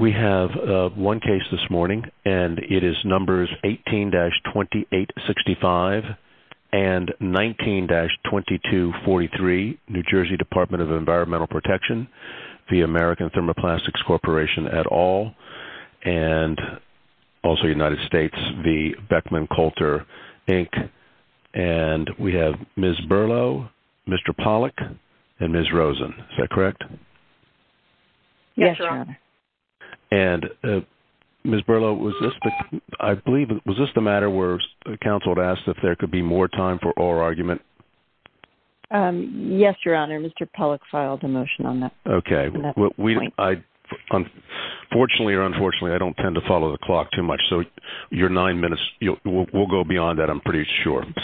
We have one case this morning, and it is numbers 18-2865 and 19-2243, New Jersey Department of Environmental Protection, the American Thermoplastics Corporation et al., and also United States, the Beckman Coulter, Inc., and we have Ms. Berlow, Mr. Pollack, and Ms. Rosen. Is that correct? Yes, Your Honor. And, Ms. Berlow, was this the matter where counsel asked if there could be more time for oral argument? Yes, Your Honor. Mr. Pollack filed a motion on that point. Okay. Fortunately or unfortunately, I don't tend to follow the clock too much, so your nine minutes will go beyond that, I'm pretty sure, and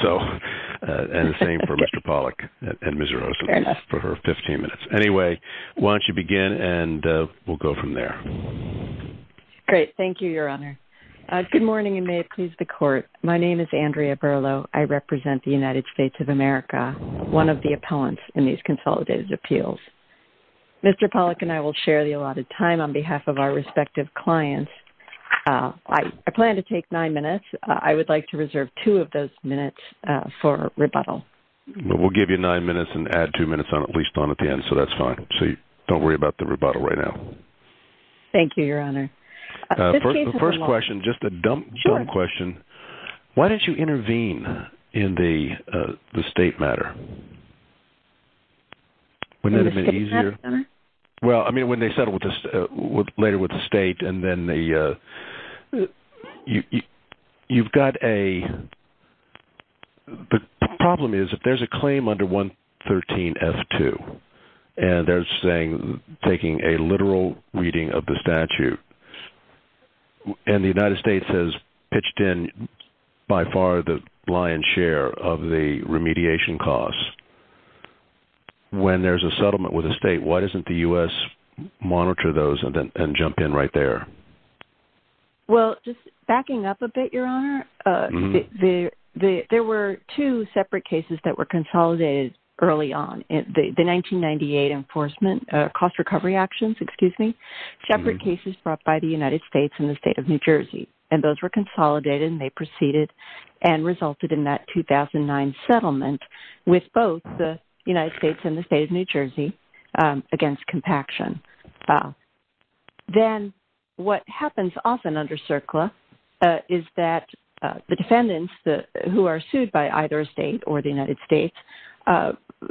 the same for Mr. Pollack and Ms. Rosen for her 15 minutes. Anyway, why don't you begin, and we'll go from there. Great. Thank you, Your Honor. Good morning, and may it please the Court. My name is Andrea Berlow. I represent the United States of America, one of the appellants in these consolidated appeals. Mr. Pollack and I will share the allotted time on behalf of our respective clients. I plan to take nine minutes. I would like to reserve two of those minutes for rebuttal. We'll give you nine minutes and add two minutes on at least at the end, so that's fine. Don't worry about the rebuttal right now. Thank you, Your Honor. First question, just a dumb question. Why didn't you intervene in the state matter? In the state matter? Well, I mean, when they settle later with the state, and then the – you've got a – the problem is if there's a claim under 113F2, and they're saying – taking a literal reading of the statute, and the United States has pitched in by far the lion's share of the remediation costs, when there's a settlement with a state, why doesn't the U.S. monitor those and jump in right there? Well, just backing up a bit, Your Honor, there were two separate cases that were consolidated early on. The 1998 enforcement, cost recovery actions, excuse me, separate cases brought by the United States and the state of New Jersey, and those were consolidated and they proceeded and resulted in that 2009 settlement with both the United States and the state of New Jersey against compaction. Then what happens often under CERCLA is that the defendants who are sued by either a state or the United States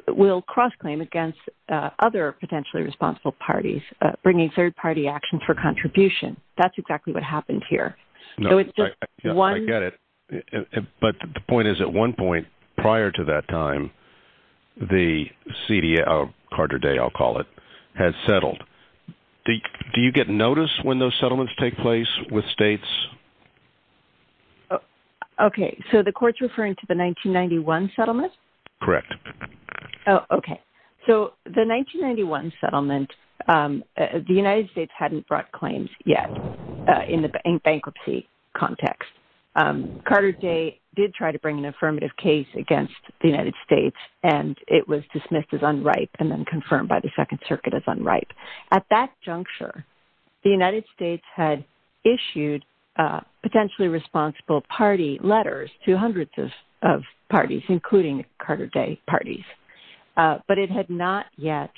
will cross-claim against other potentially responsible parties, bringing third-party actions for contribution. That's exactly what happened here. I get it, but the point is at one point prior to that time, the CDA – Carter Day, I'll call it – had settled. Do you get notice when those settlements take place with states? Okay, so the court's referring to the 1991 settlement? Correct. Okay, so the 1991 settlement, the United States hadn't brought claims yet in the bankruptcy context. Carter Day did try to bring an affirmative case against the United States, and it was dismissed as unripe and then confirmed by the Second Circuit as unripe. At that juncture, the United States had issued potentially responsible party letters to hundreds of parties, including Carter Day parties, but it had not yet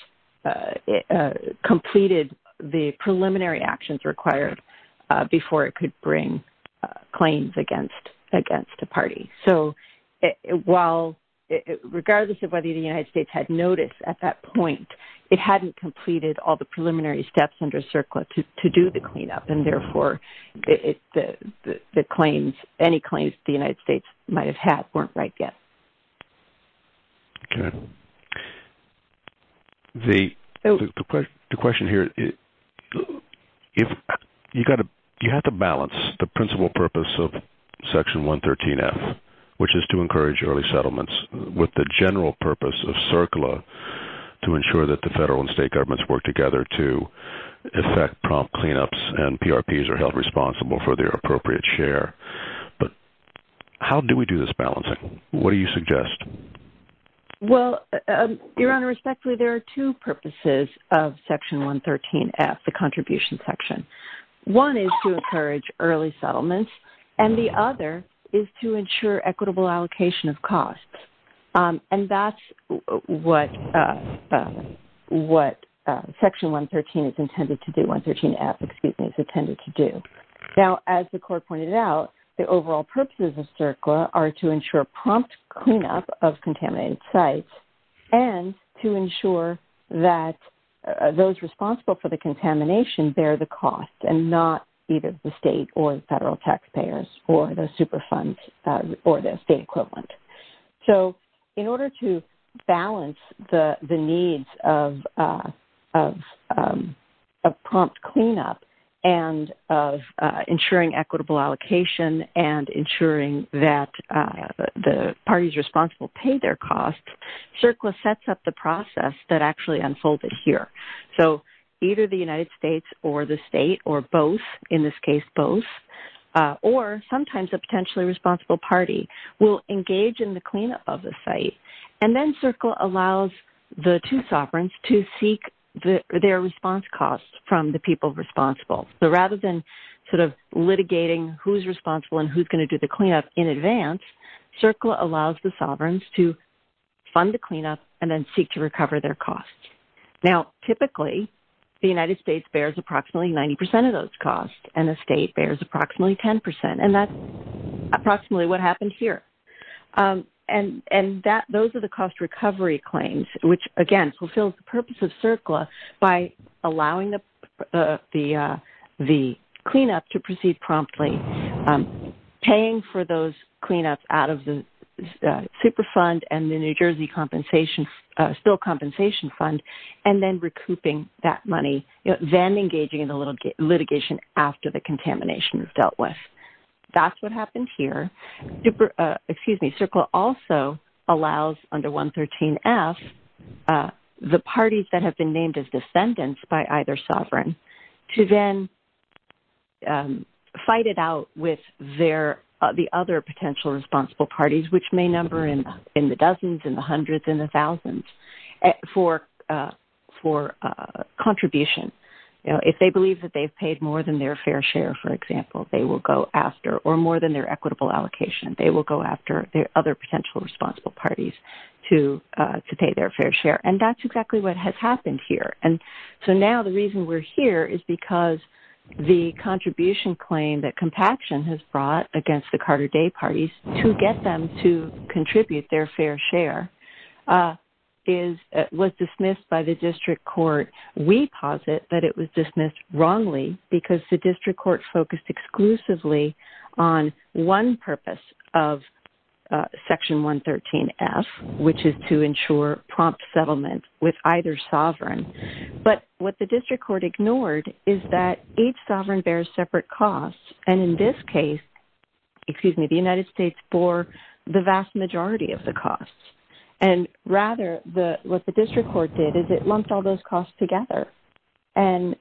completed the preliminary actions required before it could bring claims against a party. So regardless of whether the United States had notice at that point, it hadn't completed all the preliminary steps under CERCLA to do the cleanup, and therefore any claims the United States might have had weren't right yet. Okay. The question here – you have to balance the principal purpose of Section 113F, which is to encourage early settlements, with the general purpose of CERCLA to ensure that the federal and state governments work together to effect prompt cleanups and PRPs are held responsible for their appropriate share. But how do we do this balancing? What do you suggest? Well, Your Honor, respectfully, there are two purposes of Section 113F, the contribution section. One is to encourage early settlements, and the other is to ensure equitable allocation of costs. And that's what Section 113F is intended to do. Now, as the Court pointed out, the overall purposes of CERCLA are to ensure prompt cleanup of contaminated sites and to ensure that those responsible for the contamination bear the cost and not either the state or the federal taxpayers or the super funds or the state equivalent. So in order to balance the needs of prompt cleanup and of ensuring equitable allocation and ensuring that the parties responsible pay their costs, CERCLA sets up the process that actually unfolded here. So either the United States or the state or both, in this case both, or sometimes a potentially responsible party will engage in the cleanup of the site. And then CERCLA allows the two sovereigns to seek their response costs from the people responsible. So rather than sort of litigating who's responsible and who's going to do the cleanup in advance, CERCLA allows the sovereigns to fund the cleanup and then seek to recover their costs. Now, typically, the United States bears approximately 90 percent of those costs and the state bears approximately 10 percent, and that's approximately what happened here. And those are the cost recovery claims, which, again, fulfills the purpose of CERCLA by allowing the cleanup to proceed promptly. Paying for those cleanups out of the super fund and the New Jersey compensation, still compensation fund, and then recouping that money, then engaging in the litigation after the contamination is dealt with. That's what happened here. Excuse me. CERCLA also allows under 113F the parties that have been named as descendants by either sovereign to then fight it out with the other potential responsible parties, which may number in the dozens and the hundreds and the thousands, for contribution. If they believe that they've paid more than their fair share, for example, they will go after, or more than their equitable allocation, they will go after their other potential responsible parties to pay their fair share. And that's exactly what has happened here. And so now the reason we're here is because the contribution claim that Compaction has brought against the Carter Day parties to get them to contribute their fair share was dismissed by the district court. We posit that it was dismissed wrongly because the district court focused exclusively on one purpose of Section 113F, which is to ensure prompt settlement with either sovereign. But what the district court ignored is that each sovereign bears separate costs, and in this case the United States bore the vast majority of the costs. And rather what the district court did is it lumped all those costs together and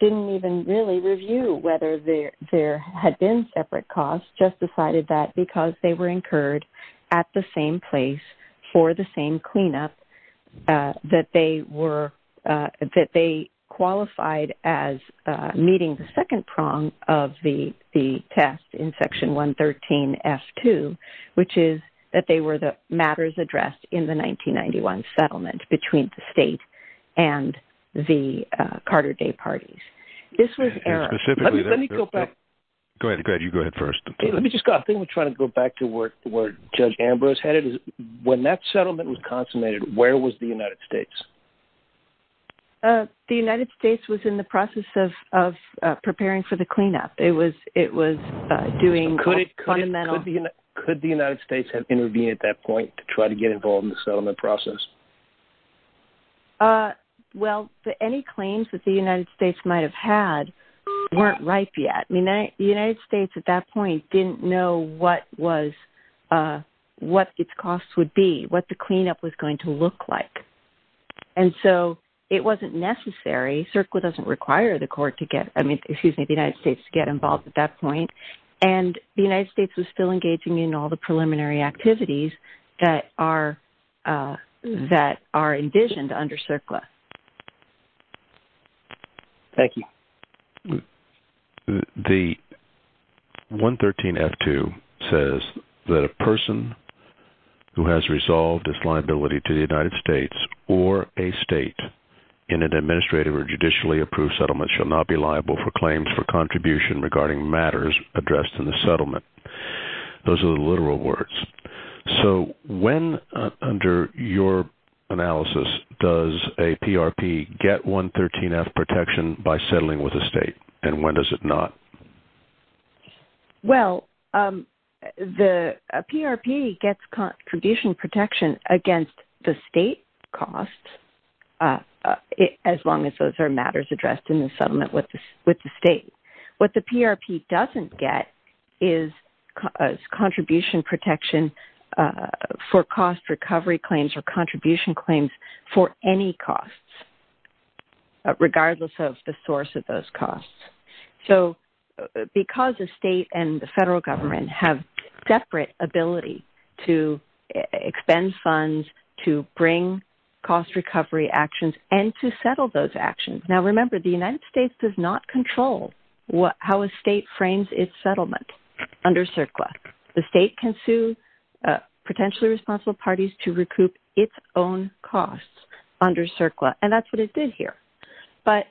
didn't even really review whether there had been separate costs, just decided that because they were incurred at the same place for the same cleanup, that they qualified as meeting the second prong of the test in Section 113F2, which is that they were the matters addressed in the 1991 settlement between the state and the Carter Day parties. This was error. Let me go back. Go ahead. You go ahead first. I think we're trying to go back to where Judge Ambrose had it. When that settlement was consummated, where was the United States? The United States was in the process of preparing for the cleanup. It was doing fundamental. Could the United States have intervened at that point to try to get involved in the settlement process? Well, any claims that the United States might have had weren't ripe yet. The United States at that point didn't know what its costs would be, what the cleanup was going to look like, and so it wasn't necessary. CERCLA doesn't require the United States to get involved at that point, and the United States was still engaging in all the preliminary activities that are envisioned under CERCLA. Thank you. The 113F2 says that a person who has resolved his liability to the United States or a state in an administrative or judicially approved settlement shall not be liable for claims for contribution regarding matters addressed in the settlement. Those are the literal words. So when, under your analysis, does a PRP get 113F protection by settling with a state, and when does it not? Well, a PRP gets contribution protection against the state costs, as long as those are matters addressed in the settlement with the state. What the PRP doesn't get is contribution protection for cost recovery claims or contribution claims for any costs, regardless of the source of those costs. So because a state and the federal government have separate ability to expend funds, to bring cost recovery actions, and to settle those actions. Now remember, the United States does not control how a state frames its settlement under CERCLA. The state can sue potentially responsible parties to recoup its own costs under CERCLA, and that's what it did here. But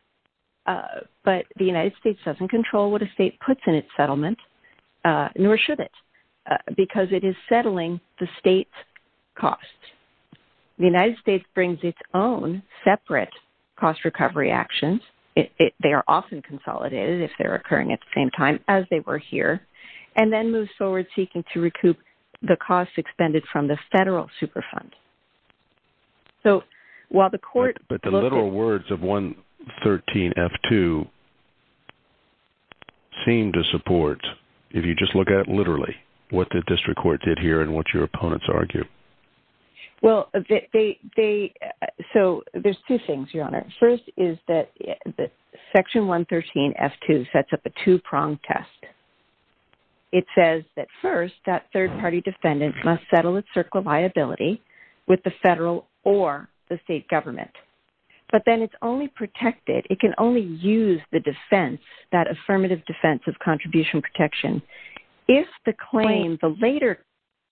the United States doesn't control what a state puts in its settlement, nor should it, because it is settling the state's costs. The United States brings its own separate cost recovery actions. They are often consolidated if they're occurring at the same time as they were here, and then moves forward seeking to recoup the costs expended from the federal superfund. So while the court... But the literal words of 113F2 seem to support, if you just look at it literally, what the district court did here and what your opponents argue. Well, they... so there's two things, Your Honor. First is that Section 113F2 sets up a two-prong test. It says that first, that third-party defendant must settle its CERCLA liability with the federal or the state government. But then it's only protected, it can only use the defense, that affirmative defense of contribution protection, if the claim, the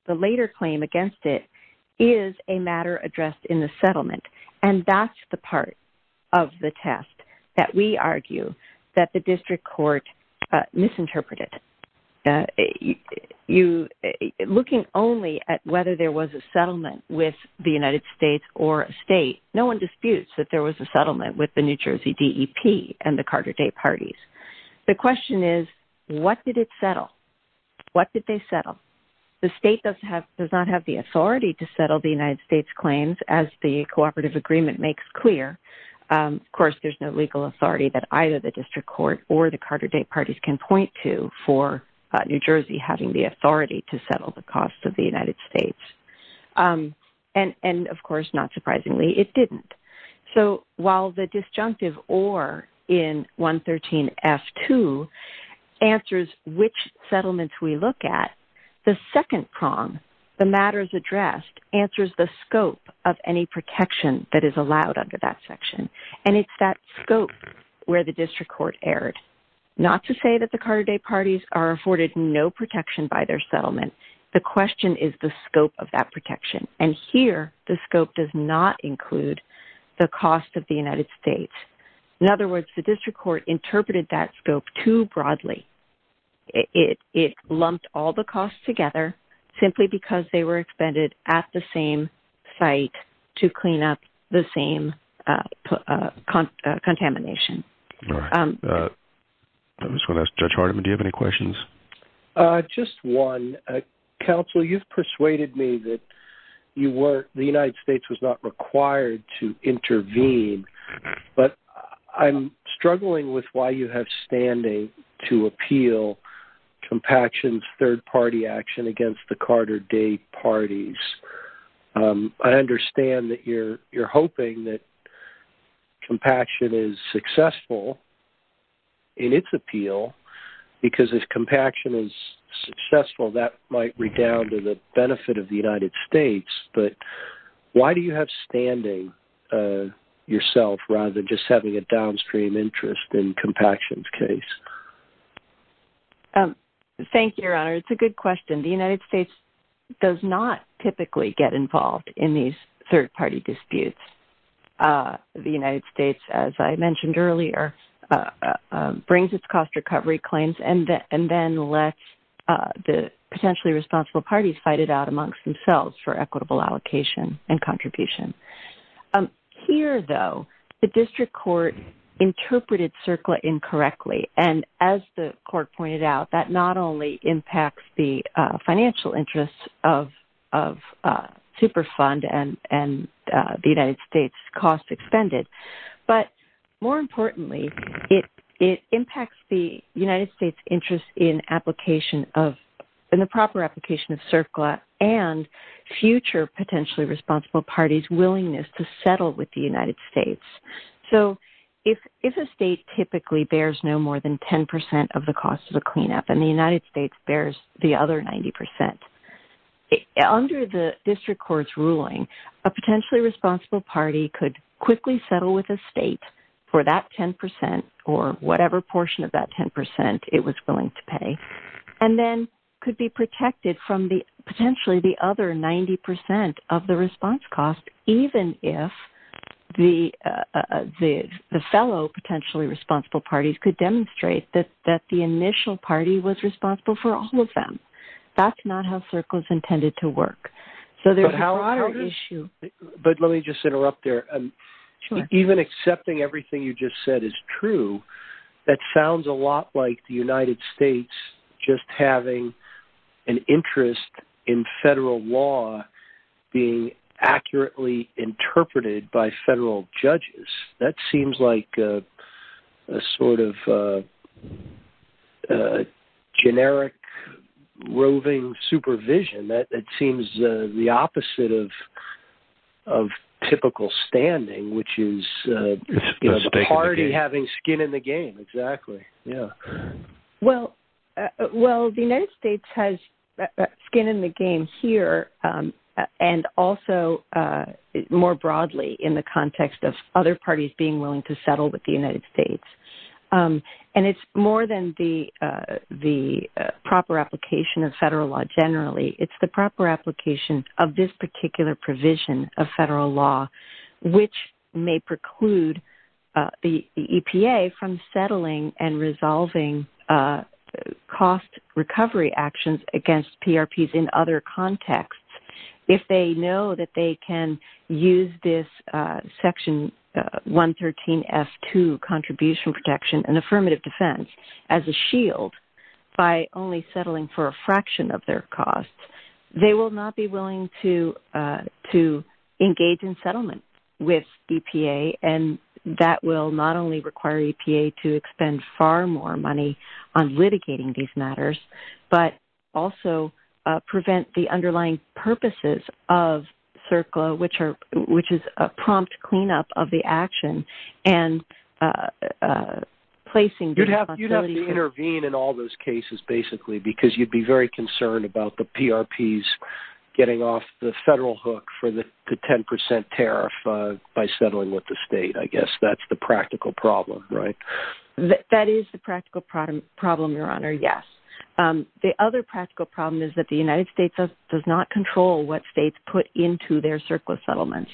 later claim against it is a matter addressed in the settlement. And that's the part of the test that we argue that the district court misinterpreted. Looking only at whether there was a settlement with the United States or a state, no one disputes that there was a settlement with the New Jersey DEP and the Carter Day parties. The question is, what did it settle? What did they settle? Well, the state does not have the authority to settle the United States claims, as the cooperative agreement makes clear. Of course, there's no legal authority that either the district court or the Carter Day parties can point to for New Jersey having the authority to settle the costs of the United States. And, of course, not surprisingly, it didn't. So while the disjunctive or in 113F2 answers which settlements we look at, the second prong, the matters addressed, answers the scope of any protection that is allowed under that section. And it's that scope where the district court erred. Not to say that the Carter Day parties are afforded no protection by their settlement. The question is the scope of that protection. And here, the scope does not include the cost of the United States. In other words, the district court interpreted that scope too broadly. It lumped all the costs together simply because they were expended at the same site to clean up the same contamination. All right. I just want to ask Judge Hardiman, do you have any questions? Just one. Counsel, you've persuaded me that the United States was not required to intervene. But I'm struggling with why you have standing to appeal compaction's third-party action against the Carter Day parties. I understand that you're hoping that compaction is successful in its appeal because if compaction is successful, that might redound to the benefit of the United States. But why do you have standing yourself rather than just having a downstream interest in compaction's case? Thank you, Your Honor. It's a good question. The United States does not typically get involved in these third-party disputes. The United States, as I mentioned earlier, brings its cost recovery claims and then lets the potentially responsible parties fight it out amongst themselves for equitable allocation and contribution. Here, though, the district court interpreted CERCLA incorrectly. And as the court pointed out, that not only impacts the financial interests of Superfund and the United States' cost expended, but more importantly, it impacts the United States' interest in the proper application of CERCLA and future potentially responsible parties' willingness to settle with the United States. So if a state typically bears no more than 10% of the cost of the cleanup and the United States bears the other 90%, under the district court's ruling, a potentially responsible party could quickly settle with a state for that 10% or whatever portion of that 10% it was willing to pay and then could be protected from potentially the other 90% of the response cost, even if the fellow potentially responsible parties could demonstrate that the initial party was responsible for all of them. That's not how CERCLA is intended to work. But let me just interrupt there. Even accepting everything you just said is true, that sounds a lot like the United States just having an interest in federal law being accurately interpreted by federal judges. That seems like a sort of generic roving supervision. That seems the opposite of typical standing, which is the party having skin in the game, exactly. Well, the United States has skin in the game here and also more broadly in the context of other parties being willing to settle with the United States. And it's more than the proper application of federal law generally. It's the proper application of this particular provision of federal law, which may preclude the EPA from settling and resolving cost recovery actions against PRPs in other contexts. If they know that they can use this Section 113F2, Contribution Protection and Affirmative Defense, as a shield by only settling for a fraction of their costs, they will not be willing to engage in settlement with EPA. And that will not only require EPA to expend far more money on litigating these matters, but also prevent the underlying purposes of CERCLA, which is a prompt cleanup of the action. You'd have to intervene in all those cases, basically, because you'd be very concerned about the PRPs getting off the federal hook for the 10% tariff by settling with the state, I guess. That's the practical problem, right? That is the practical problem, Your Honor, yes. The other practical problem is that the United States does not control what states put into their CERCLA settlements.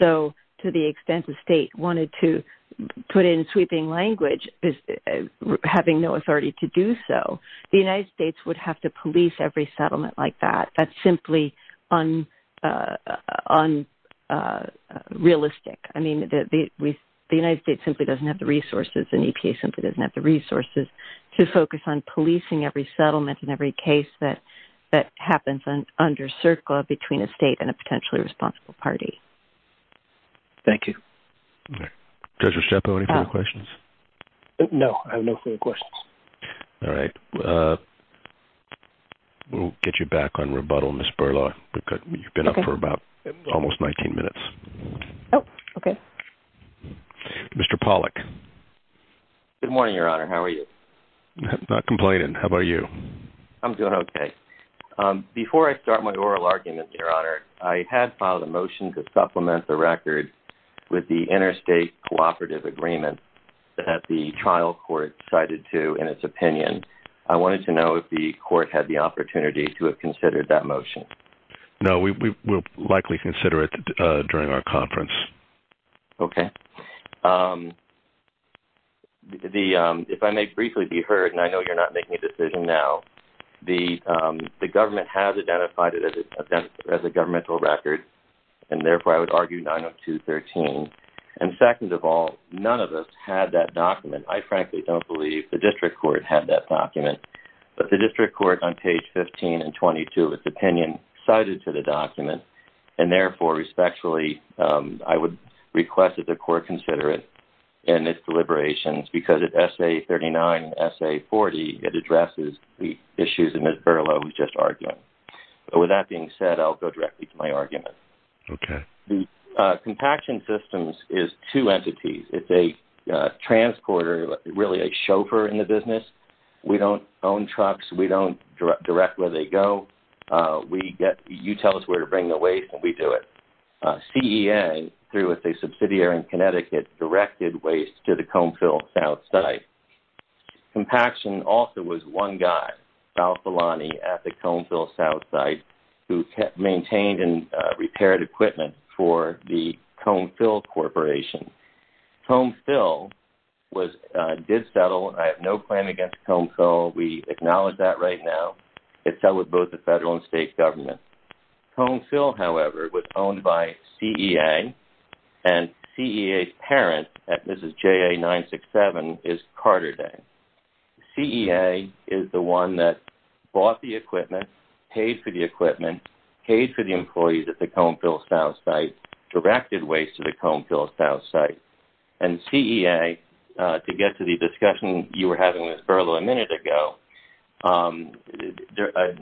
So to the extent the state wanted to put in sweeping language, having no authority to do so, the United States would have to police every settlement like that. That's simply unrealistic. The United States simply doesn't have the resources and EPA simply doesn't have the resources to focus on policing every settlement and every case that happens under CERCLA between a state and a potentially responsible party. Thank you. Judge Restepo, any further questions? No, I have no further questions. All right. We'll get you back on rebuttal, Ms. Berlaw. You've been up for about almost 19 minutes. Oh, okay. Mr. Pollack. Good morning, Your Honor. How are you? Not complaining. How about you? I'm doing okay. Before I start my oral argument, Your Honor, I had filed a motion to supplement the record with the interstate cooperative agreement that the trial court cited to in its opinion. I wanted to know if the court had the opportunity to have considered that motion. No, we'll likely consider it during our conference. Okay. If I may briefly be heard, and I know you're not making a decision now, the government has identified it as a governmental record, and therefore I would argue 902.13. And second of all, none of us had that document. I frankly don't believe the district court had that document. But the district court on page 15 and 22 of its opinion cited to the document, and therefore respectfully I would request that the court consider it in its deliberations because at SA39 and SA40 it addresses the issues that Ms. Berlaw was just arguing. With that being said, I'll go directly to my argument. Okay. The compaction systems is two entities. It's a transporter, really a chauffeur in the business. We don't own trucks. We don't direct where they go. You tell us where to bring the waste and we do it. CEA, through a subsidiary in Connecticut, directed waste to the Comb-Fill South site. Compaction also was one guy, Al Filani at the Comb-Fill South site, who maintained and repaired equipment for the Comb-Fill Corporation. Comb-Fill did settle. I have no claim against Comb-Fill. We acknowledge that right now. It settled with both the federal and state governments. Comb-Fill, however, was owned by CEA, and CEA's parent at Mrs. JA967 is Carter Dang. CEA is the one that bought the equipment, paid for the equipment, paid for the employees at the Comb-Fill South site, and directed waste to the Comb-Fill South site. And CEA, to get to the discussion you were having with Berlo a minute ago,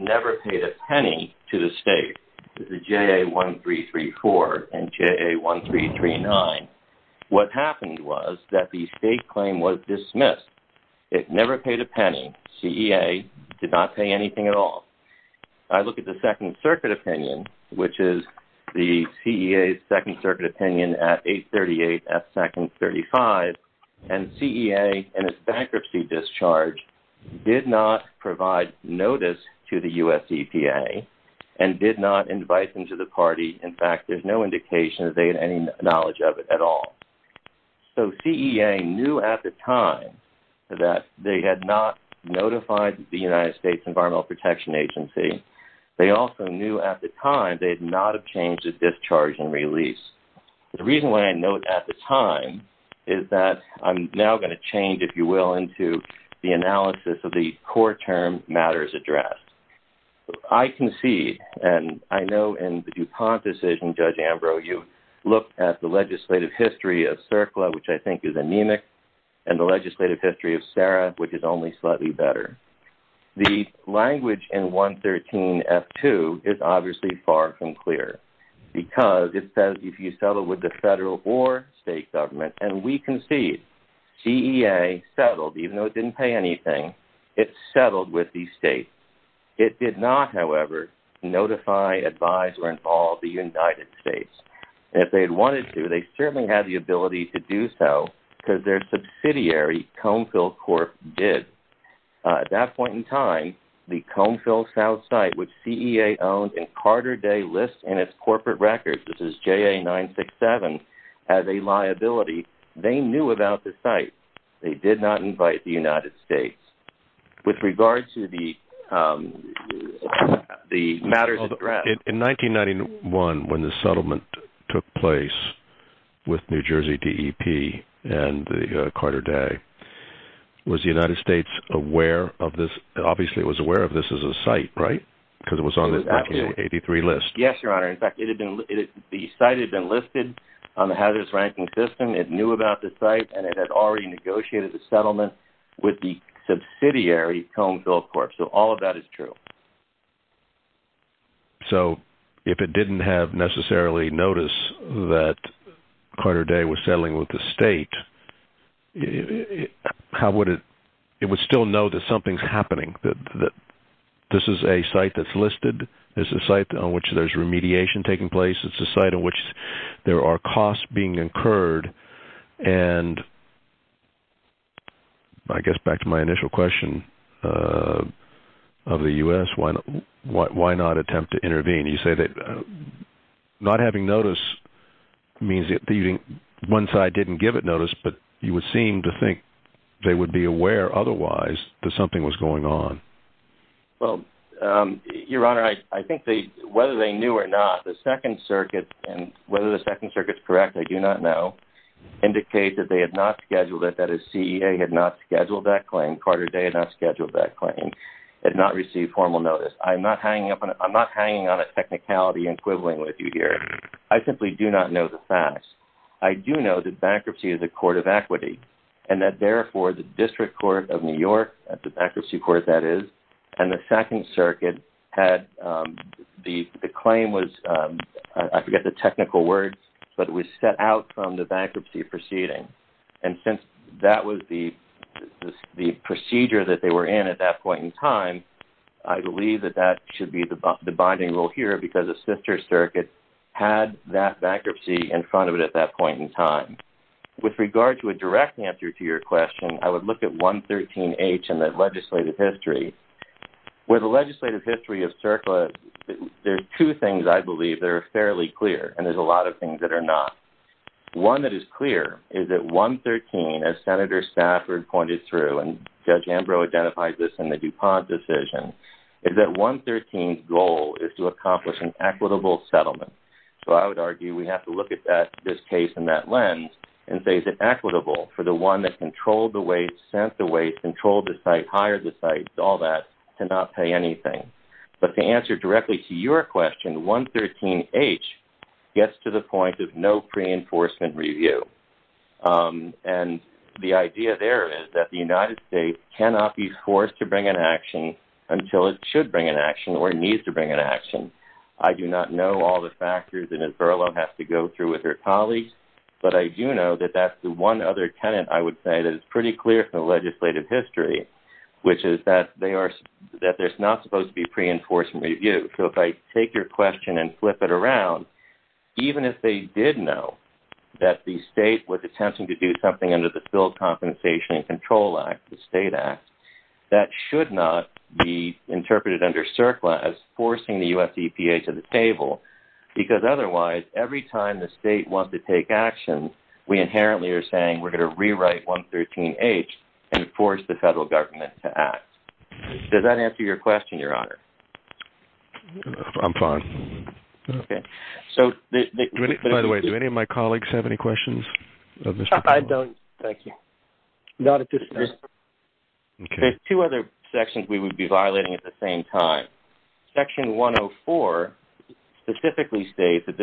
never paid a penny to the state, the JA1334 and JA1339. What happened was that the state claim was dismissed. It never paid a penny. CEA did not pay anything at all. I look at the Second Circuit opinion, which is the CEA's Second Circuit opinion at 838 at Second 35, and CEA, in its bankruptcy discharge, did not provide notice to the U.S. EPA and did not invite them to the party. In fact, there's no indication that they had any knowledge of it at all. So CEA knew at the time that they had not notified the United States Environmental Protection Agency. They also knew at the time they had not changed the discharge and release. The reason why I note at the time is that I'm now going to change, if you will, into the analysis of the core term matters addressed. I concede, and I know in the DuPont decision, Judge Ambrose, you looked at the legislative history of CERCLA, which I think is anemic, and the legislative history of CERRA, which is only slightly better. The language in 113F2 is obviously far from clear because it says if you settle with the federal or state government, and we concede CEA settled, even though it didn't pay anything. It settled with the state. It did not, however, notify, advise, or involve the United States. If they had wanted to, they certainly had the ability to do so because their subsidiary, Comfil Corp., did. At that point in time, the Comfil South site, which CEA owned and Carter Day lists in its corporate records, this is JA-967, as a liability, they knew about the site. They did not invite the United States. With regard to the matters addressed. In 1991, when the settlement took place with New Jersey DEP and Carter Day, was the United States aware of this? Obviously, it was aware of this as a site, right? Because it was on the 1983 list. Yes, Your Honor. In fact, the site had been listed on the Hazardous Ranking System. It knew about the site, and it had already negotiated the settlement with the subsidiary, Comfil Corp., so all of that is true. So, if it didn't have necessarily notice that Carter Day was settling with the state, how would it—it would still know that something's happening, that this is a site that's listed, this is a site on which there's remediation taking place, it's a site on which there are costs being incurred, and I guess back to my initial question of the U.S., why not attempt to intervene? You say that not having notice means that one side didn't give it notice, but you would seem to think they would be aware otherwise that something was going on. Well, Your Honor, I think whether they knew or not, the Second Circuit, and whether the Second Circuit's correct, I do not know, indicates that they had not scheduled it, that a CEA had not scheduled that claim, Carter Day had not scheduled that claim, had not received formal notice. I'm not hanging on a technicality equivalent with you here. I simply do not know the facts. I do know that bankruptcy is a court of equity, and that therefore the District Court of New York, at the bankruptcy court that is, and the Second Circuit had the claim was, I forget the technical words, but it was set out from the bankruptcy proceeding. And since that was the procedure that they were in at that point in time, I believe that that should be the binding rule here, because the Sister Circuit had that bankruptcy in front of it at that point in time. With regard to a direct answer to your question, I would look at 113H in the legislative history. With the legislative history of CERCLA, there are two things I believe that are fairly clear, and there's a lot of things that are not. One that is clear is that 113, as Senator Stafford pointed through, and Judge Ambrose identified this in the DuPont decision, is that 113's goal is to accomplish an equitable settlement. So I would argue we have to look at this case in that lens and say is it equitable for the one that controlled the waste, sent the waste, controlled the site, hired the site, all that, to not pay anything. But to answer directly to your question, 113H gets to the point of no pre-enforcement review. And the idea there is that the United States cannot be forced to bring an action until it should bring an action or needs to bring an action. I do not know all the factors that Isabella has to go through with her colleagues, but I do know that that's the one other tenet I would say that is pretty clear from the legislative history, which is that there's not supposed to be pre-enforcement review. So if I take your question and flip it around, even if they did know that the state was attempting to do something under the Filled Compensation and Control Act, the state act, that should not be interpreted under CERCLA as forcing the U.S. EPA to the table because otherwise every time the state wants to take action, we inherently are saying we're going to rewrite 113H and force the federal government to act. Does that answer your question, Your Honor? I'm fine. By the way, do any of my colleagues have any questions? I don't, thank you. Not at this time. There's two other sections we would be violating at the same time. Section 104 specifically states that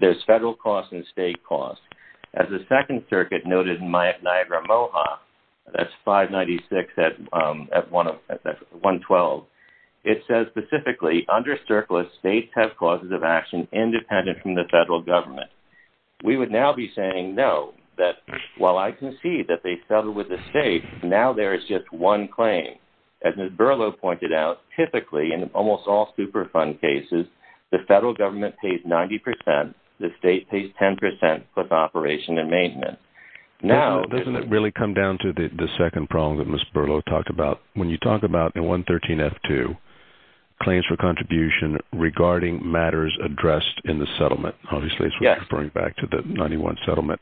there's federal costs and state costs. As the Second Circuit noted in Niagara-Moha, that's 596 at 112, it says specifically, under CERCLA, states have causes of action independent from the federal government. We would now be saying, no, that while I concede that they settled with the state, now there is just one claim. As Ms. Berlow pointed out, typically in almost all Superfund cases, the federal government pays 90%, the state pays 10% plus operation and maintenance. Now, doesn't it really come down to the second problem that Ms. Berlow talked about? When you talk about in 113F2, claims for contribution regarding matters addressed in the settlement. Obviously, it's referring back to the 91 settlement.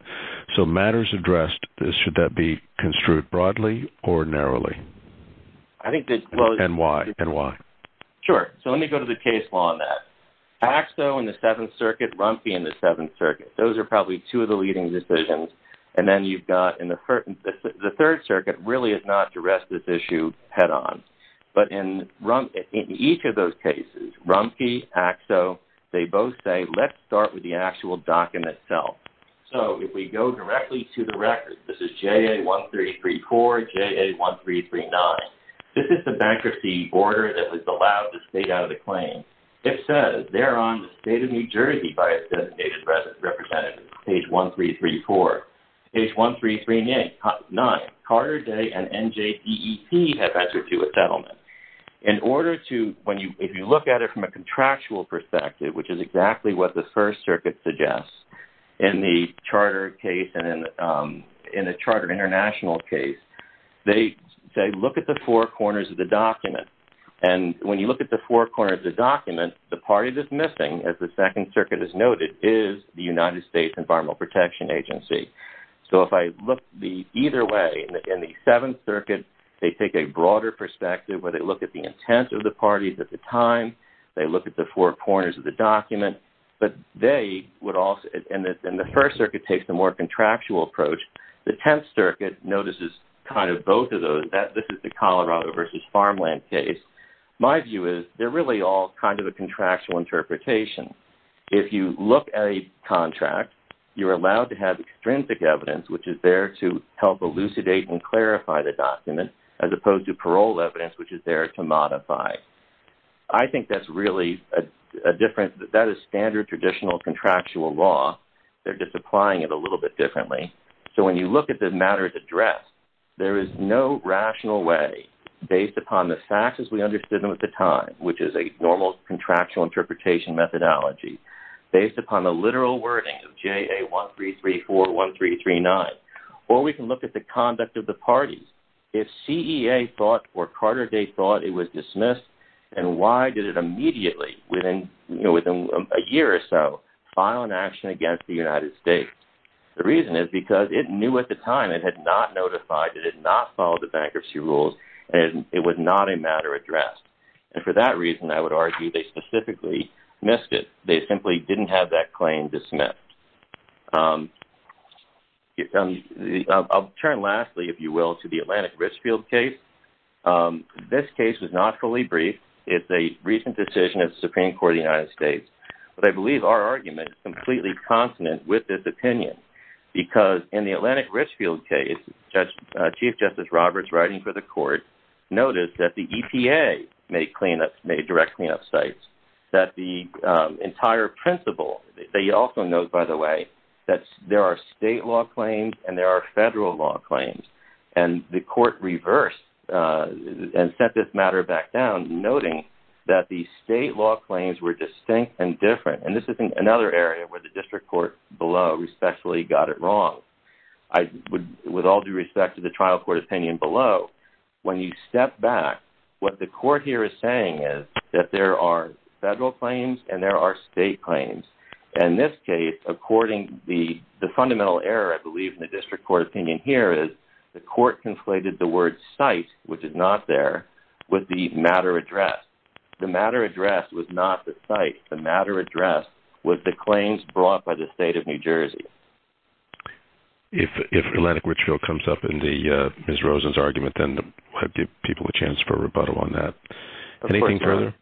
So matters addressed, should that be construed broadly or narrowly? And why? Sure. So let me go to the case law on that. AXO in the Seventh Circuit, Rumpke in the Seventh Circuit, those are probably two of the leading decisions. And then you've got in the Third Circuit really is not to rest this issue head on. But in each of those cases, Rumpke, AXO, they both say, let's start with the actual document itself. So if we go directly to the record, this is JA1334, JA1339. This is the bankruptcy order that was allowed the state out of the claim. It says, they're on the state of New Jersey by its designation representative, page 1334. Page 1339, Carter Day and NJDEP have entered to a settlement. In order to, if you look at it from a contractual perspective, which is exactly what the First Circuit suggests, in the Charter case and in the Charter International case, they look at the four corners of the document. And when you look at the four corners of the document, the part that's missing, as the Second Circuit has noted, is the United States Environmental Protection Agency. So if I look either way, in the Seventh Circuit, they take a broader perspective where they look at the intent of the parties at the time. They look at the four corners of the document. But they would also, and the First Circuit takes the more contractual approach. The Tenth Circuit notices kind of both of those. This is the Colorado versus Farmland case. My view is, they're really all kind of a contractual interpretation. If you look at a contract, you're allowed to have extrinsic evidence, which is there to help elucidate and clarify the document, as opposed to parole evidence, which is there to modify. I think that's really a difference. That is standard traditional contractual law. They're just applying it a little bit differently. So when you look at the matter at address, there is no rational way, based upon the facts as we understood them at the time, which is a normal contractual interpretation methodology, based upon the literal wording of JA 1334-1339. Or we can look at the conduct of the parties. If CEA thought or Carter Day thought it was dismissed, then why did it immediately, within a year or so, file an action against the United States? The reason is because it knew at the time, it had not notified, it had not followed the bankruptcy rules, and it was not a matter addressed. And for that reason, I would argue, they specifically missed it. They simply didn't have that claim dismissed. I'll turn, lastly, if you will, to the Atlantic Richfield case. This case was not fully briefed. It's a recent decision of the Supreme Court of the United States. But I believe our argument is completely consonant with this opinion, because in the Atlantic Richfield case, Chief Justice Roberts, writing for the court, noticed that the EPA made direct cleanup sites, that the entire principle, they also note, by the way, that there are state law claims and there are federal law claims. And the court reversed and set this matter back down, noting that the state law claims were distinct and different. And this is another area where the district court below respectfully got it wrong. With all due respect to the trial court opinion below, when you step back, what the court here is saying is that there are federal claims and there are state claims. In this case, according to the fundamental error, I believe, in the district court opinion here is, the court conflated the word site, which is not there, with the matter addressed. The matter addressed was not the site. The matter addressed was the claims brought by the state of New Jersey. If Atlantic Richfield comes up in Ms. Rosen's argument, then I'll give people a chance for a rebuttal on that. Anything further?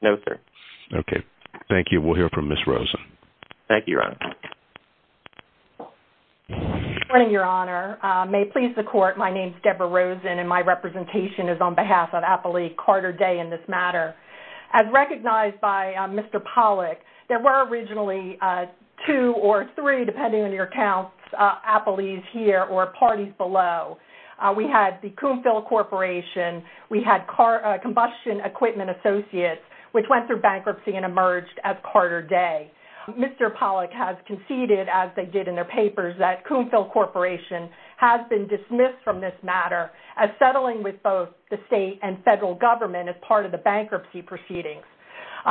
No, sir. Okay. Thank you. We'll hear from Ms. Rosen. Thank you, Your Honor. Good morning, Your Honor. May it please the court, my name is Deborah Rosen and my representation is on behalf of Apolli Carter Day in this matter. As recognized by Mr. Pollack, there were originally two or three, depending on your accounts, Apollis here or parties below. We had the Coomphil Corporation, we had Combustion Equipment Associates, which went through bankruptcy and emerged as Carter Day. Mr. Pollack has conceded, as they did in their papers, that Coomphil Corporation has been dismissed from this matter as settling with both the state and federal government as part of the bankruptcy proceedings.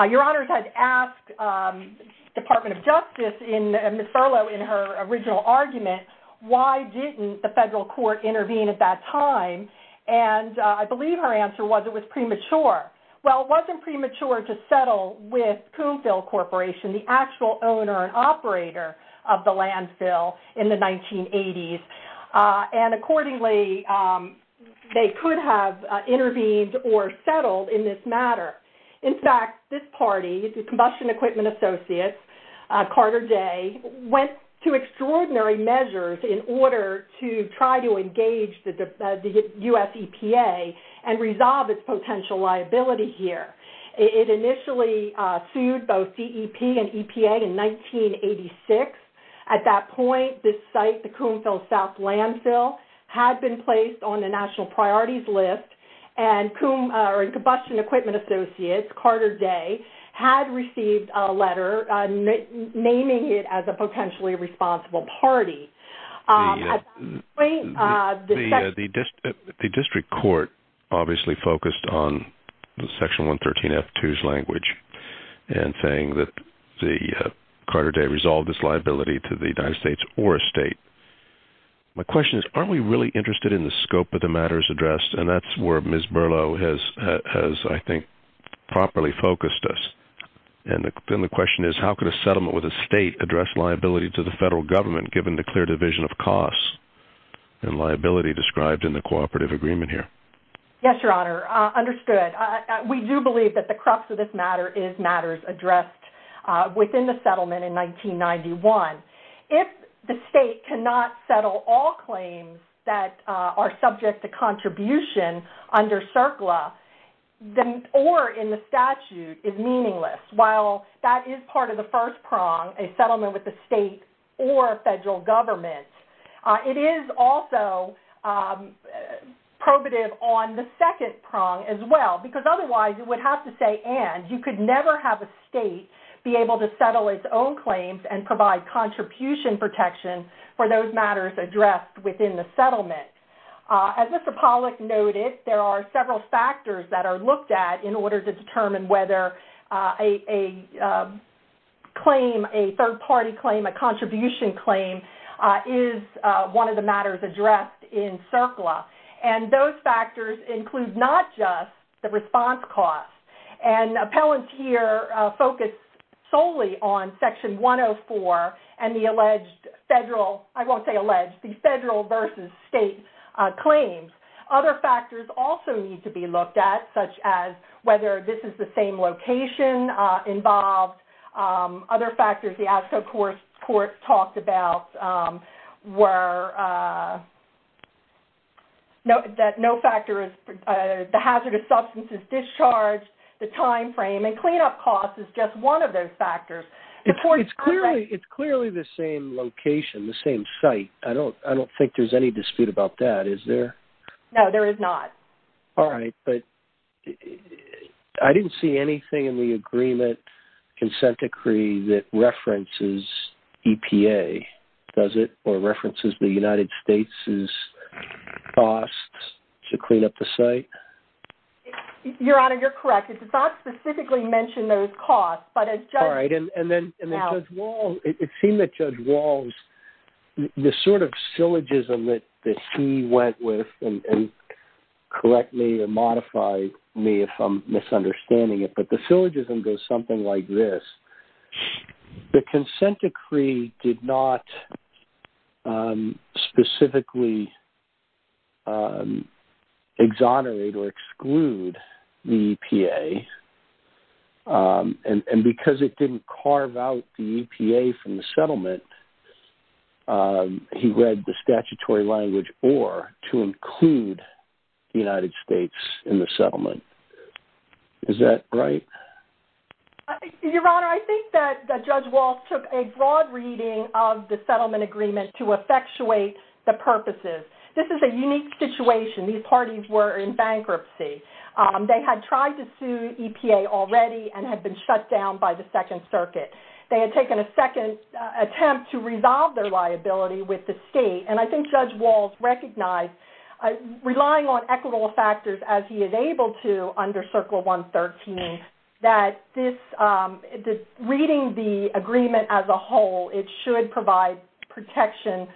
Your Honor has asked the Department of Justice and Ms. Furlow in her original argument, why didn't the federal court intervene at that time? And I believe her answer was it was premature. Well, it wasn't premature to settle with Coomphil Corporation, the actual owner and operator of the landfill in the 1980s. And accordingly, they could have intervened or settled in this matter. In fact, this party, the Combustion Equipment Associates, Carter Day, went to extraordinary measures in order to try to engage the U.S. EPA and resolve its potential liability here. It initially sued both DEP and EPA in 1986. At that point, this site, the Coomphil South Landfill, had been placed on the national priorities list, and Combustion Equipment Associates, Carter Day, had received a letter naming it as a potentially responsible party. At that point, the district court obviously focused on Section 113F2's language and saying that Carter Day resolved this liability to the United States or a state. My question is, aren't we really interested in the scope of the matters addressed? And that's where Ms. Burlow has, I think, properly focused us. And then the question is, how could a settlement with a state address liability to the federal government, given the clear division of costs and liability described in the cooperative agreement here? Yes, Your Honor, understood. We do believe that the crux of this matter is matters addressed within the settlement in 1991. If the state cannot settle all claims that are subject to contribution under CERCLA or in the statute is meaningless, while that is part of the first prong, a settlement with the state or federal government, it is also probative on the second prong as well, because otherwise you would have to say and. You could never have a state be able to settle its own claims and provide contribution protection for those matters addressed within the settlement. As Mr. Pollack noted, there are several factors that are looked at in order to determine whether a claim, a third-party claim, a contribution claim, is one of the matters addressed in CERCLA. And those factors include not just the response costs. And appellants here focus solely on Section 104 and the alleged federal, I won't say alleged, the federal versus state claims. Other factors also need to be looked at, such as whether this is the same location involved. Other factors the ASCO courts talked about were that no factor is, the hazardous substance is discharged, the time frame, and cleanup costs is just one of those factors. It's clearly the same location, the same site. I don't think there's any dispute about that, is there? No, there is not. All right. But I didn't see anything in the agreement consent decree that references EPA, does it? Or references the United States' costs to clean up the site? Your Honor, you're correct. It does not specifically mention those costs. All right. It seemed that Judge Walsh, the sort of syllogism that he went with, and correct me or modify me if I'm misunderstanding it, but the syllogism goes something like this. The consent decree did not specifically exonerate or exclude the EPA. And because it didn't carve out the EPA from the settlement, he read the statutory language or to include the United States in the settlement. Is that right? Your Honor, I think that Judge Walsh took a broad reading of the settlement agreement to effectuate the purposes. This is a unique situation. These parties were in bankruptcy. They had tried to sue EPA already and had been shut down by the Second Circuit. They had taken a second attempt to resolve their liability with the state. And I think Judge Walsh recognized, relying on equitable factors, as he is able to under Circle 113, that reading the agreement as a whole, it should provide protection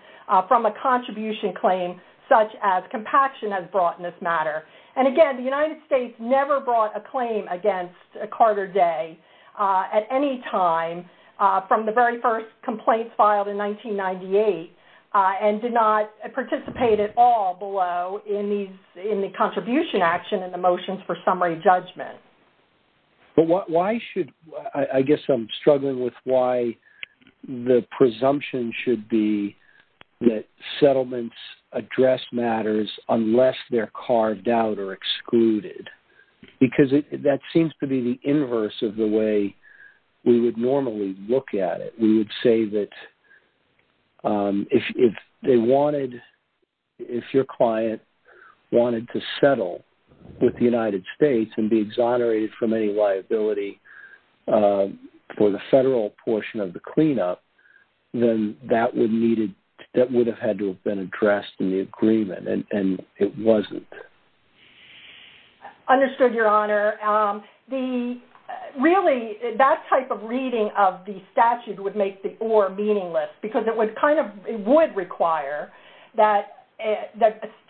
from a contribution claim, such as compaction as brought in this matter. And, again, the United States never brought a claim against Carter Day at any time from the very first complaints filed in 1998 and did not participate at all below in the contribution action and the motions for summary judgment. But why should, I guess I'm struggling with why the presumption should be that settlements address matters unless they're carved out or excluded? Because that seems to be the inverse of the way we would normally look at it. We would say that if your client wanted to settle with the United States and be exonerated from any liability for the federal portion of the cleanup, then that would have had to have been addressed in the agreement, and it wasn't. Understood, Your Honor. Really, that type of reading of the statute would make the or meaningless because it would require that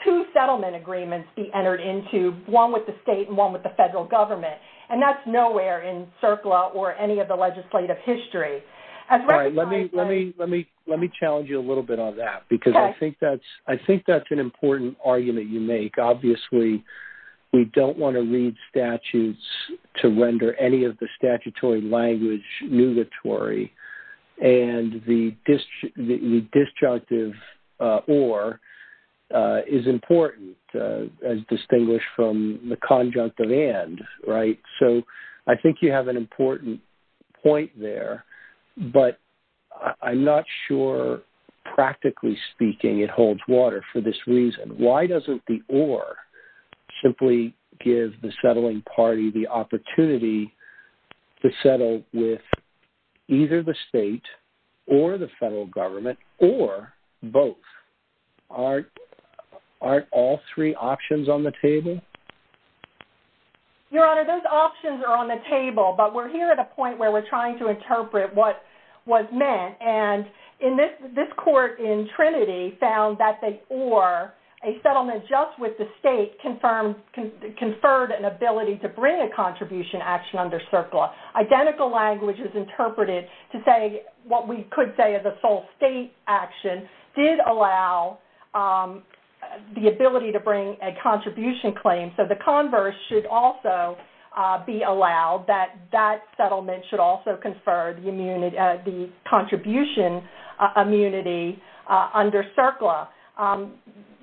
two settlement agreements be entered into, one with the state and one with the federal government. And that's nowhere in CERCLA or any of the legislative history. Let me challenge you a little bit on that because I think that's an important argument you make. Obviously, we don't want to read statutes to render any of the statutory language nugatory. And the disjunctive or is important as distinguished from the conjunctive and. So I think you have an important point there, but I'm not sure practically speaking it holds water for this reason. Why doesn't the or simply give the settling party the opportunity to settle with either the state or the federal government or both? Aren't all three options on the table? Your Honor, those options are on the table, but we're here at a point where we're trying to interpret what was meant. And this court in Trinity found that the or, a settlement just with the state, conferred an ability to bring a contribution action under CERCLA. Identical language is interpreted to say what we could say is a sole state action did allow the ability to bring a contribution claim. So the converse should also be allowed, that that settlement should also confer the contribution immunity under CERCLA.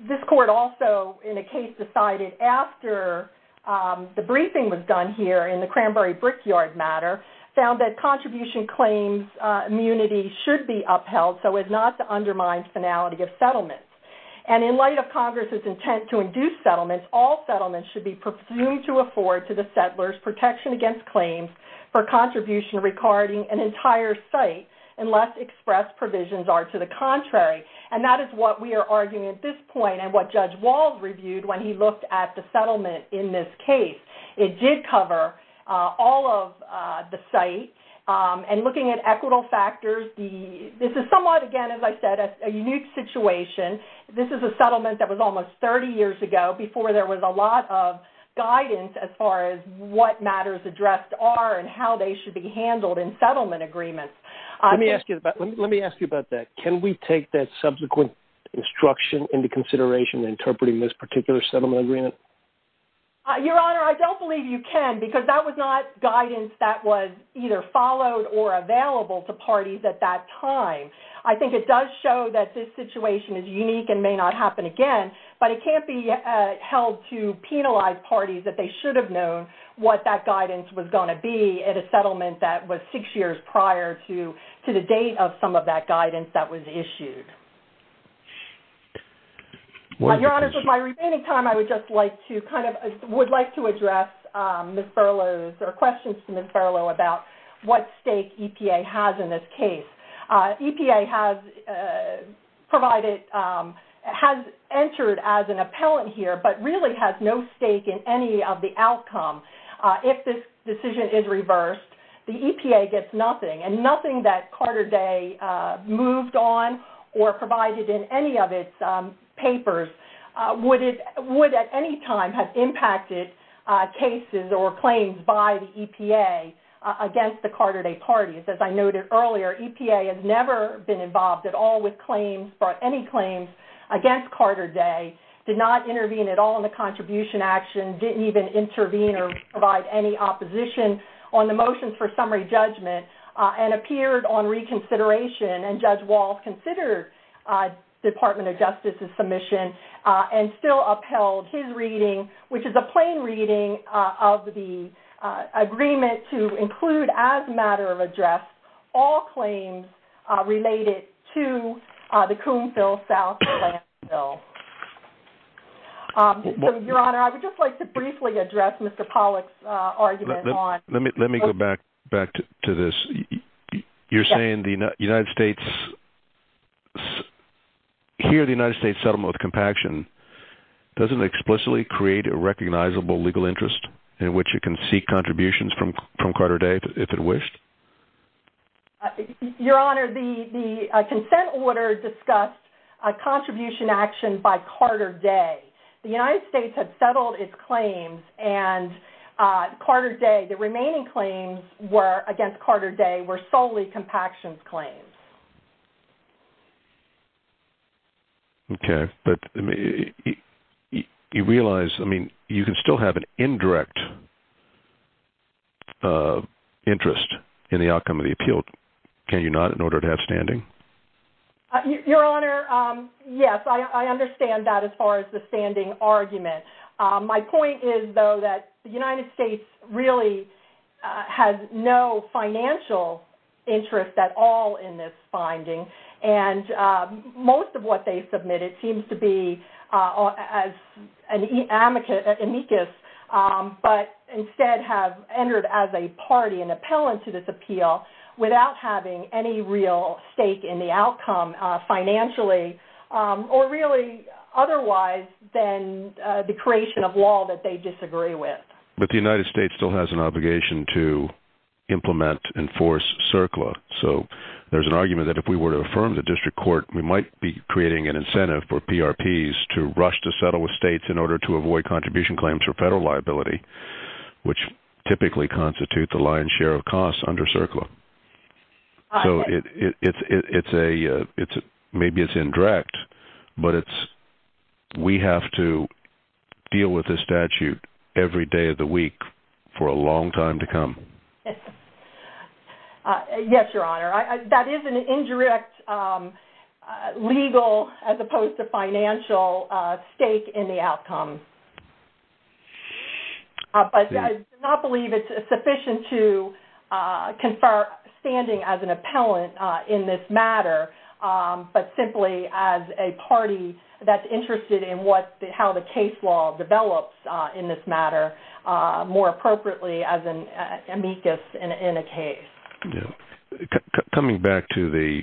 This court also in a case decided after the briefing was done here in the Cranberry Brickyard matter, found that contribution claims immunity should be upheld so as not to undermine finality of settlement. And in light of Congress's intent to induce settlements, all settlements should be presumed to afford to the settlers protection against claims for contribution regarding an entire site unless expressed provisions are to the contrary. And that is what we are arguing at this point and what Judge Walz reviewed when he looked at the settlement in this case. It did cover all of the site. And looking at equitable factors, this is somewhat again as I said a unique situation. This is a settlement that was almost 30 years ago before there was a lot of guidance as far as what matters addressed are and how they should be handled in settlement agreements. Let me ask you about that. Can we take that subsequent instruction into consideration in interpreting this particular settlement agreement? Your Honor, I don't believe you can because that was not guidance that was either followed or available to parties at that time. I think it does show that this situation is unique and may not happen again, but it can't be held to penalize parties that they should have known what that guidance was going to be at a settlement that was six years prior to the date of some of that guidance that was issued. Your Honor, with my remaining time, I would just like to kind of address Ms. Furlow's or questions to Ms. Furlow about what stake EPA has in this case. EPA has entered as an appellant here but really has no stake in any of the outcome. If this decision is reversed, the EPA gets nothing and nothing that Carter Day moved on or provided in any of its papers would at any time have impacted cases or claims by the EPA against the Carter Day parties. As I noted earlier, EPA has never been involved at all with any claims against Carter Day, did not intervene at all in the contribution action, didn't even intervene or provide any opposition on the motions for summary judgment, and appeared on reconsideration. And Judge Walsh considered Department of Justice's submission and still upheld his reading, which is a plain reading of the agreement to include as a matter of address all claims related to the Coombsville South landfill. Your Honor, I would just like to briefly address Mr. Pollack's argument on... Let me go back to this. You're saying the United States... here the United States settlement with compaction doesn't explicitly create a recognizable legal interest in which it can seek contributions from Carter Day if it wished? Your Honor, the consent order discussed a contribution action by Carter Day. The United States had settled its claims and Carter Day, the remaining claims against Carter Day were solely compaction claims. Okay, but you realize, I mean, you can still have an indirect interest in the outcome of the appeal, can you not, in order to have standing? Your Honor, yes, I understand that as far as the standing argument. My point is, though, that the United States really has no financial interest at all in this case. And most of what they submitted seems to be amicus, but instead have entered as a party an appellant to this appeal without having any real stake in the outcome financially or really otherwise than the creation of law that they disagree with. But the United States still has an obligation to implement, enforce CERCLA. So there's an argument that if we were to affirm the district court, we might be creating an incentive for PRPs to rush to settle with states in order to avoid contribution claims for federal liability, which typically constitute the lion's share of costs under CERCLA. So maybe it's indirect, but we have to deal with this statute every day of the week for a long time to come. Yes, Your Honor. That is an indirect legal as opposed to financial stake in the outcome. But I do not believe it's sufficient to confer standing as an appellant in this matter, but simply as a party that's interested in how the case law develops in this matter, more appropriately as an amicus in a case. Coming back to the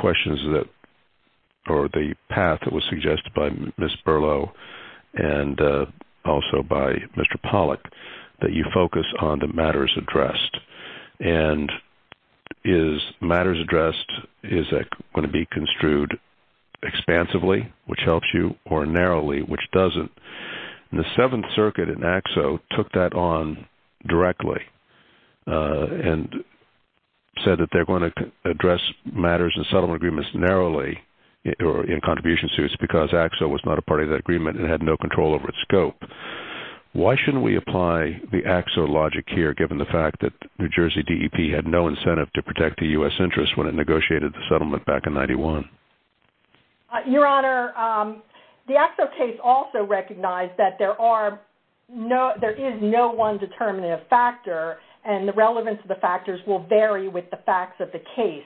questions or the path that was suggested by Ms. Berlo and also by Mr. Pollack, that you focus on the matters addressed. And is matters addressed, is that going to be construed expansively, which helps you, or narrowly, which doesn't? The Seventh Circuit in AXO took that on directly and said that they're going to address matters in settlement agreements narrowly or in contribution suits because AXO was not a part of that agreement and had no control over its scope. Why shouldn't we apply the AXO logic here, given the fact that New Jersey DEP had no incentive to protect the U.S. interests when it negotiated the settlement back in 1991? Your Honor, the AXO case also recognized that there is no one determinative factor and the relevance of the factors will vary with the facts of the case.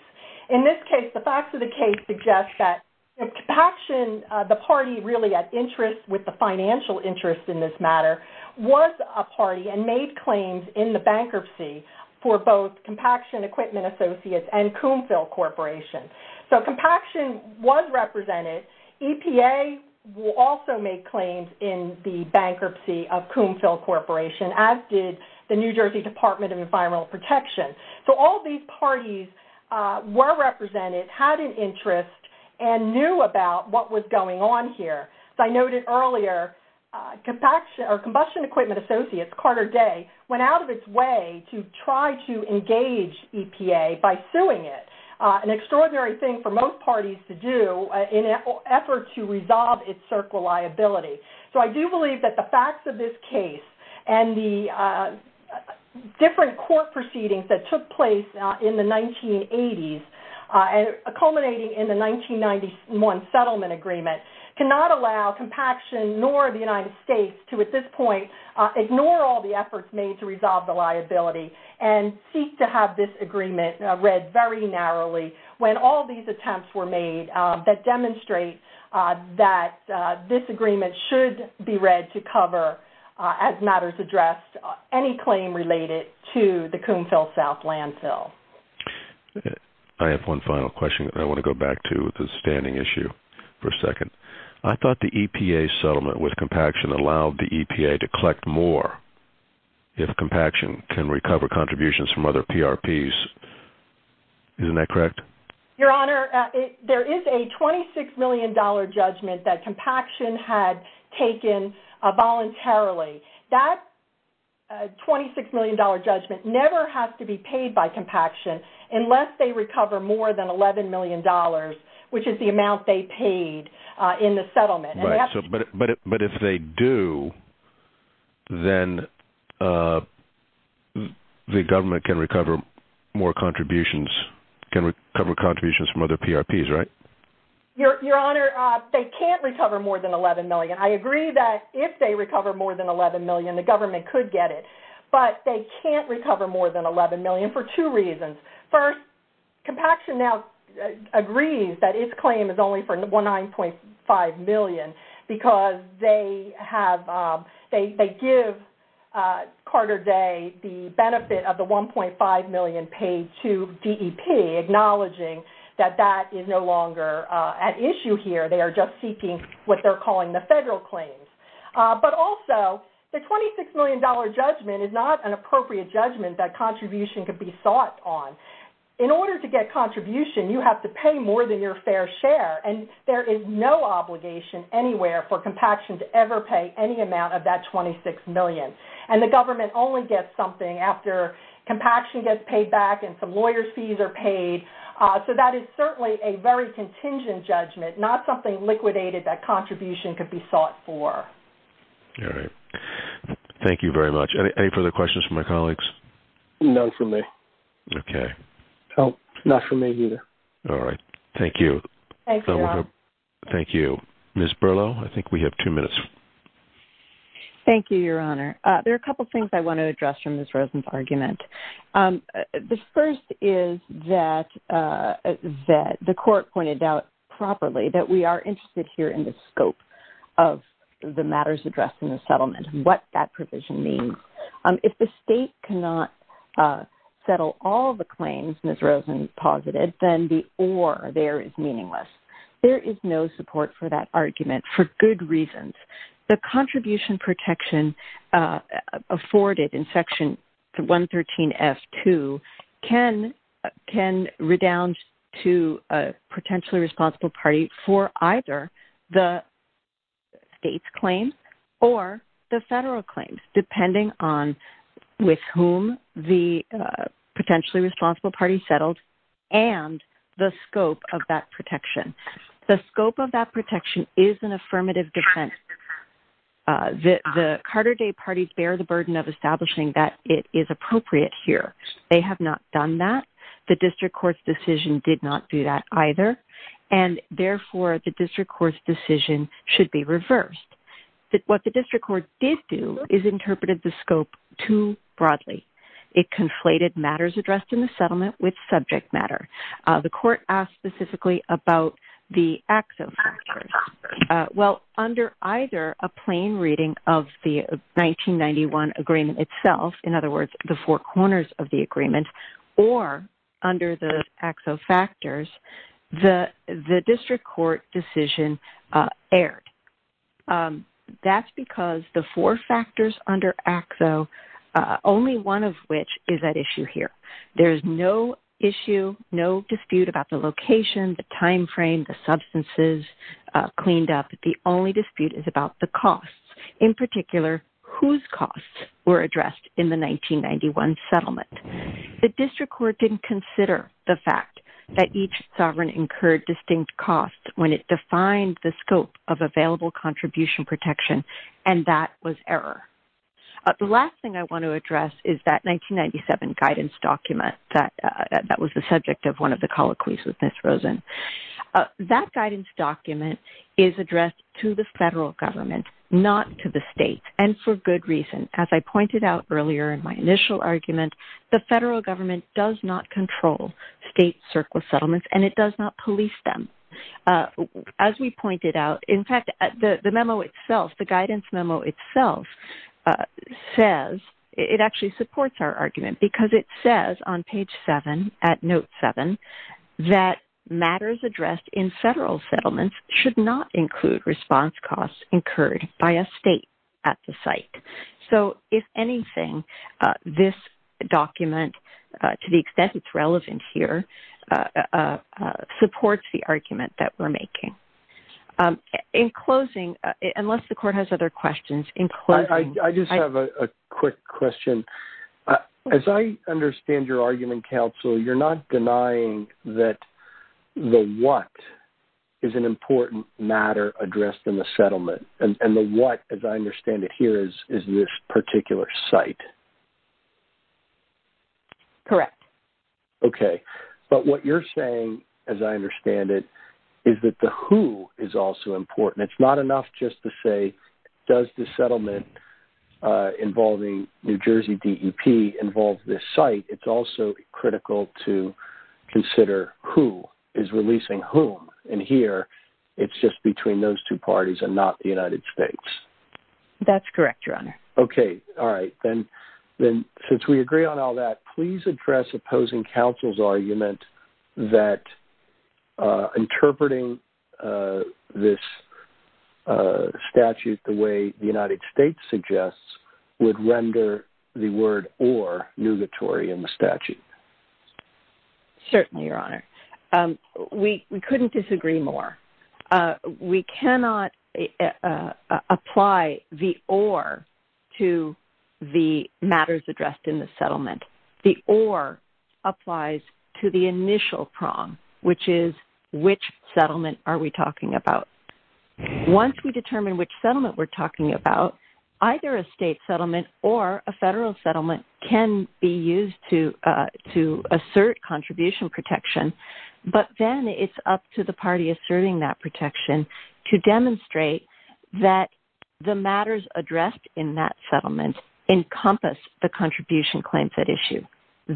In this case, the facts of the case suggest that Compaction, the party really at interest with the financial interest in this matter, was a party and made claims in the bankruptcy for both Compaction Equipment Associates and Coomphil Corporation. So Compaction was represented. EPA will also make claims in the bankruptcy of Coomphil Corporation, as did the New Jersey Department of Environmental Protection. So all these parties were represented, had an interest, and knew about what was going on here. As I noted earlier, Combustion Equipment Associates, Carter Day, went out of its way to try to engage EPA by suing it. An extraordinary thing for most parties to do in an effort to resolve its circle liability. So I do believe that the facts of this case and the different court proceedings that took place in the 1980s culminating in the 1991 settlement agreement cannot allow Compaction nor the United States to, at this point, ignore all the efforts made to resolve the liability and seek to have this agreement read very narrowly when all these attempts were made that demonstrate that this agreement should be read to cover, as matters addressed, any claim related to the Coomphil South landfill. I have one final question that I want to go back to with the standing issue for a second. I thought the EPA settlement with Compaction allowed the EPA to collect more if Compaction can recover contributions from other PRPs. Isn't that correct? Your Honor, there is a $26 million judgment that Compaction had taken voluntarily. That $26 million judgment never has to be paid by Compaction unless they recover more than $11 million, which is the amount they paid in the settlement. But if they do, then the government can recover more contributions from other PRPs, right? Your Honor, they can't recover more than $11 million. I agree that if they recover more than $11 million, the government could get it, but they can't recover more than $11 million for two reasons. First, Compaction now agrees that its claim is only for $19.5 million because they give Carter Day the benefit of the $1.5 million paid to DEP, acknowledging that that is no longer at issue here. They are just seeking what they're calling the federal claims. But also, the $26 million judgment is not an appropriate judgment that contribution could be sought on. In order to get contribution, you have to pay more than your fair share, and there is no obligation anywhere for Compaction to ever pay any amount of that $26 million. And the government only gets something after Compaction gets paid back and some lawyer's fees are paid. So that is certainly a very contingent judgment, not something liquidated that contribution could be sought for. All right. Thank you very much. Any further questions from my colleagues? None from me. Okay. No, not from me either. All right. Thank you. Thank you, Your Honor. Thank you. Ms. Berlo, I think we have two minutes. Thank you, Your Honor. There are a couple things I want to address from Ms. Rosen's argument. The first is that the court pointed out properly that we are interested here in the scope of the matters addressed in the settlement and what that provision means. If the state cannot settle all the claims Ms. Rosen posited, then the or there is meaningless. There is no support for that argument for good reasons. The contribution protection afforded in Section 113F2 can redound to a potentially responsible party for either the state's claims or the federal claims, depending on with whom the potentially responsible party settled and the scope of that protection. The scope of that protection is an affirmative defense. The Carter Day parties bear the burden of establishing that it is appropriate here. They have not done that. The district court's decision did not do that either, and therefore the district court's decision should be reversed. What the district court did do is interpreted the scope too broadly. It conflated matters addressed in the settlement with subject matter. The court asked specifically about the AXA factors. Well, under either a plain reading of the 1991 agreement itself, in other words, the four corners of the agreement, or under the AXA factors, the district court decision erred. That's because the four factors under AXA, only one of which is at issue here. There is no issue, no dispute about the location, the time frame, the substances cleaned up. The only dispute is about the costs, in particular whose costs were addressed in the 1991 settlement. The district court didn't consider the fact that each sovereign incurred distinct costs when it defined the scope of available contribution protection, and that was error. The last thing I want to address is that 1997 guidance document that was the subject of one of the colloquies with Ms. Rosen. That guidance document is addressed to the federal government, not to the state, and for good reason. As I pointed out earlier in my initial argument, the federal government does not control state surplus settlements, and it does not police them. As we pointed out, in fact, the memo itself, the guidance memo itself says, it actually supports our argument, because it says on page 7, at note 7, that matters addressed in federal settlements should not include response costs incurred by a state at the site. So, if anything, this document, to the extent it's relevant here, supports the argument that we're making. In closing, unless the court has other questions. I just have a quick question. As I understand your argument, counsel, you're not denying that the what is an important matter addressed in the settlement, and the what, as I understand it here, is this particular site. Correct. Okay. But what you're saying, as I understand it, is that the who is also important. It's not enough just to say, does the settlement involving New Jersey DEP involve this site. It's also critical to consider who is releasing whom. And here, it's just between those two parties and not the United States. That's correct, Your Honor. Okay. All right. Then, since we agree on all that, please address opposing counsel's argument that interpreting this statute the way the United States suggests would render the word or nugatory in the statute. Certainly, Your Honor. We couldn't disagree more. We cannot apply the or to the matters addressed in the settlement. The or applies to the initial prong, which is which settlement are we talking about. Once we determine which settlement we're talking about, either a state settlement or a federal settlement can be used to assert contribution protection, but then it's up to the party asserting that protection to demonstrate that the matters addressed in that settlement encompass the contribution claims at issue.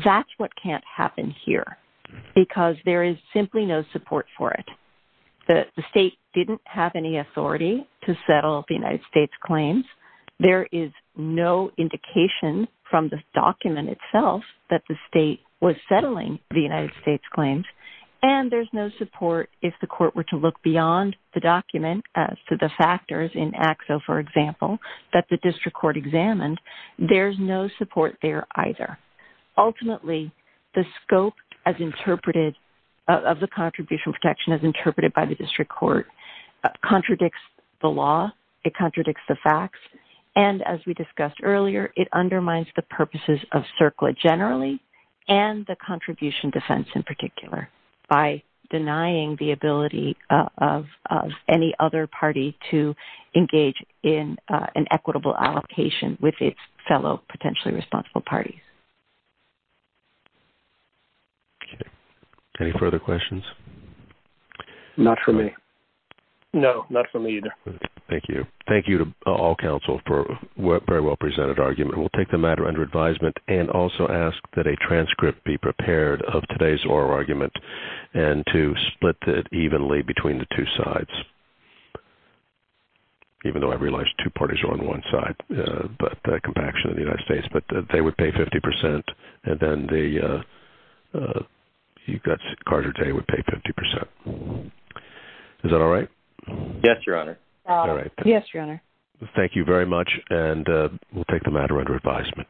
That's what can't happen here because there is simply no support for it. The state didn't have any authority to settle the United States' claims. There is no indication from the document itself that the state was settling the United States' claims, and there's no support if the court were to look beyond the document to the factors in ACSO, for example, that the district court examined. There's no support there either. Ultimately, the scope of the contribution protection as interpreted by the district court contradicts the law, it contradicts the facts, and as we discussed earlier, it undermines the purposes of CERCLA generally and the contribution defense in particular by denying the ability of any other party to engage in an equitable allocation with its fellow potentially responsible parties. Okay. Any further questions? Not from me. No, not from me either. Thank you. Thank you to all counsel for a very well-presented argument. We'll take the matter under advisement and also ask that a transcript be prepared of today's oral argument and to split it evenly between the two sides, even though I realize two parties are on one side, the compaction of the United States, but they would pay 50% and then Carter Day would pay 50%. Is that all right? Yes, Your Honor. All right. Yes, Your Honor. Thank you very much, and we'll take the matter under advisement.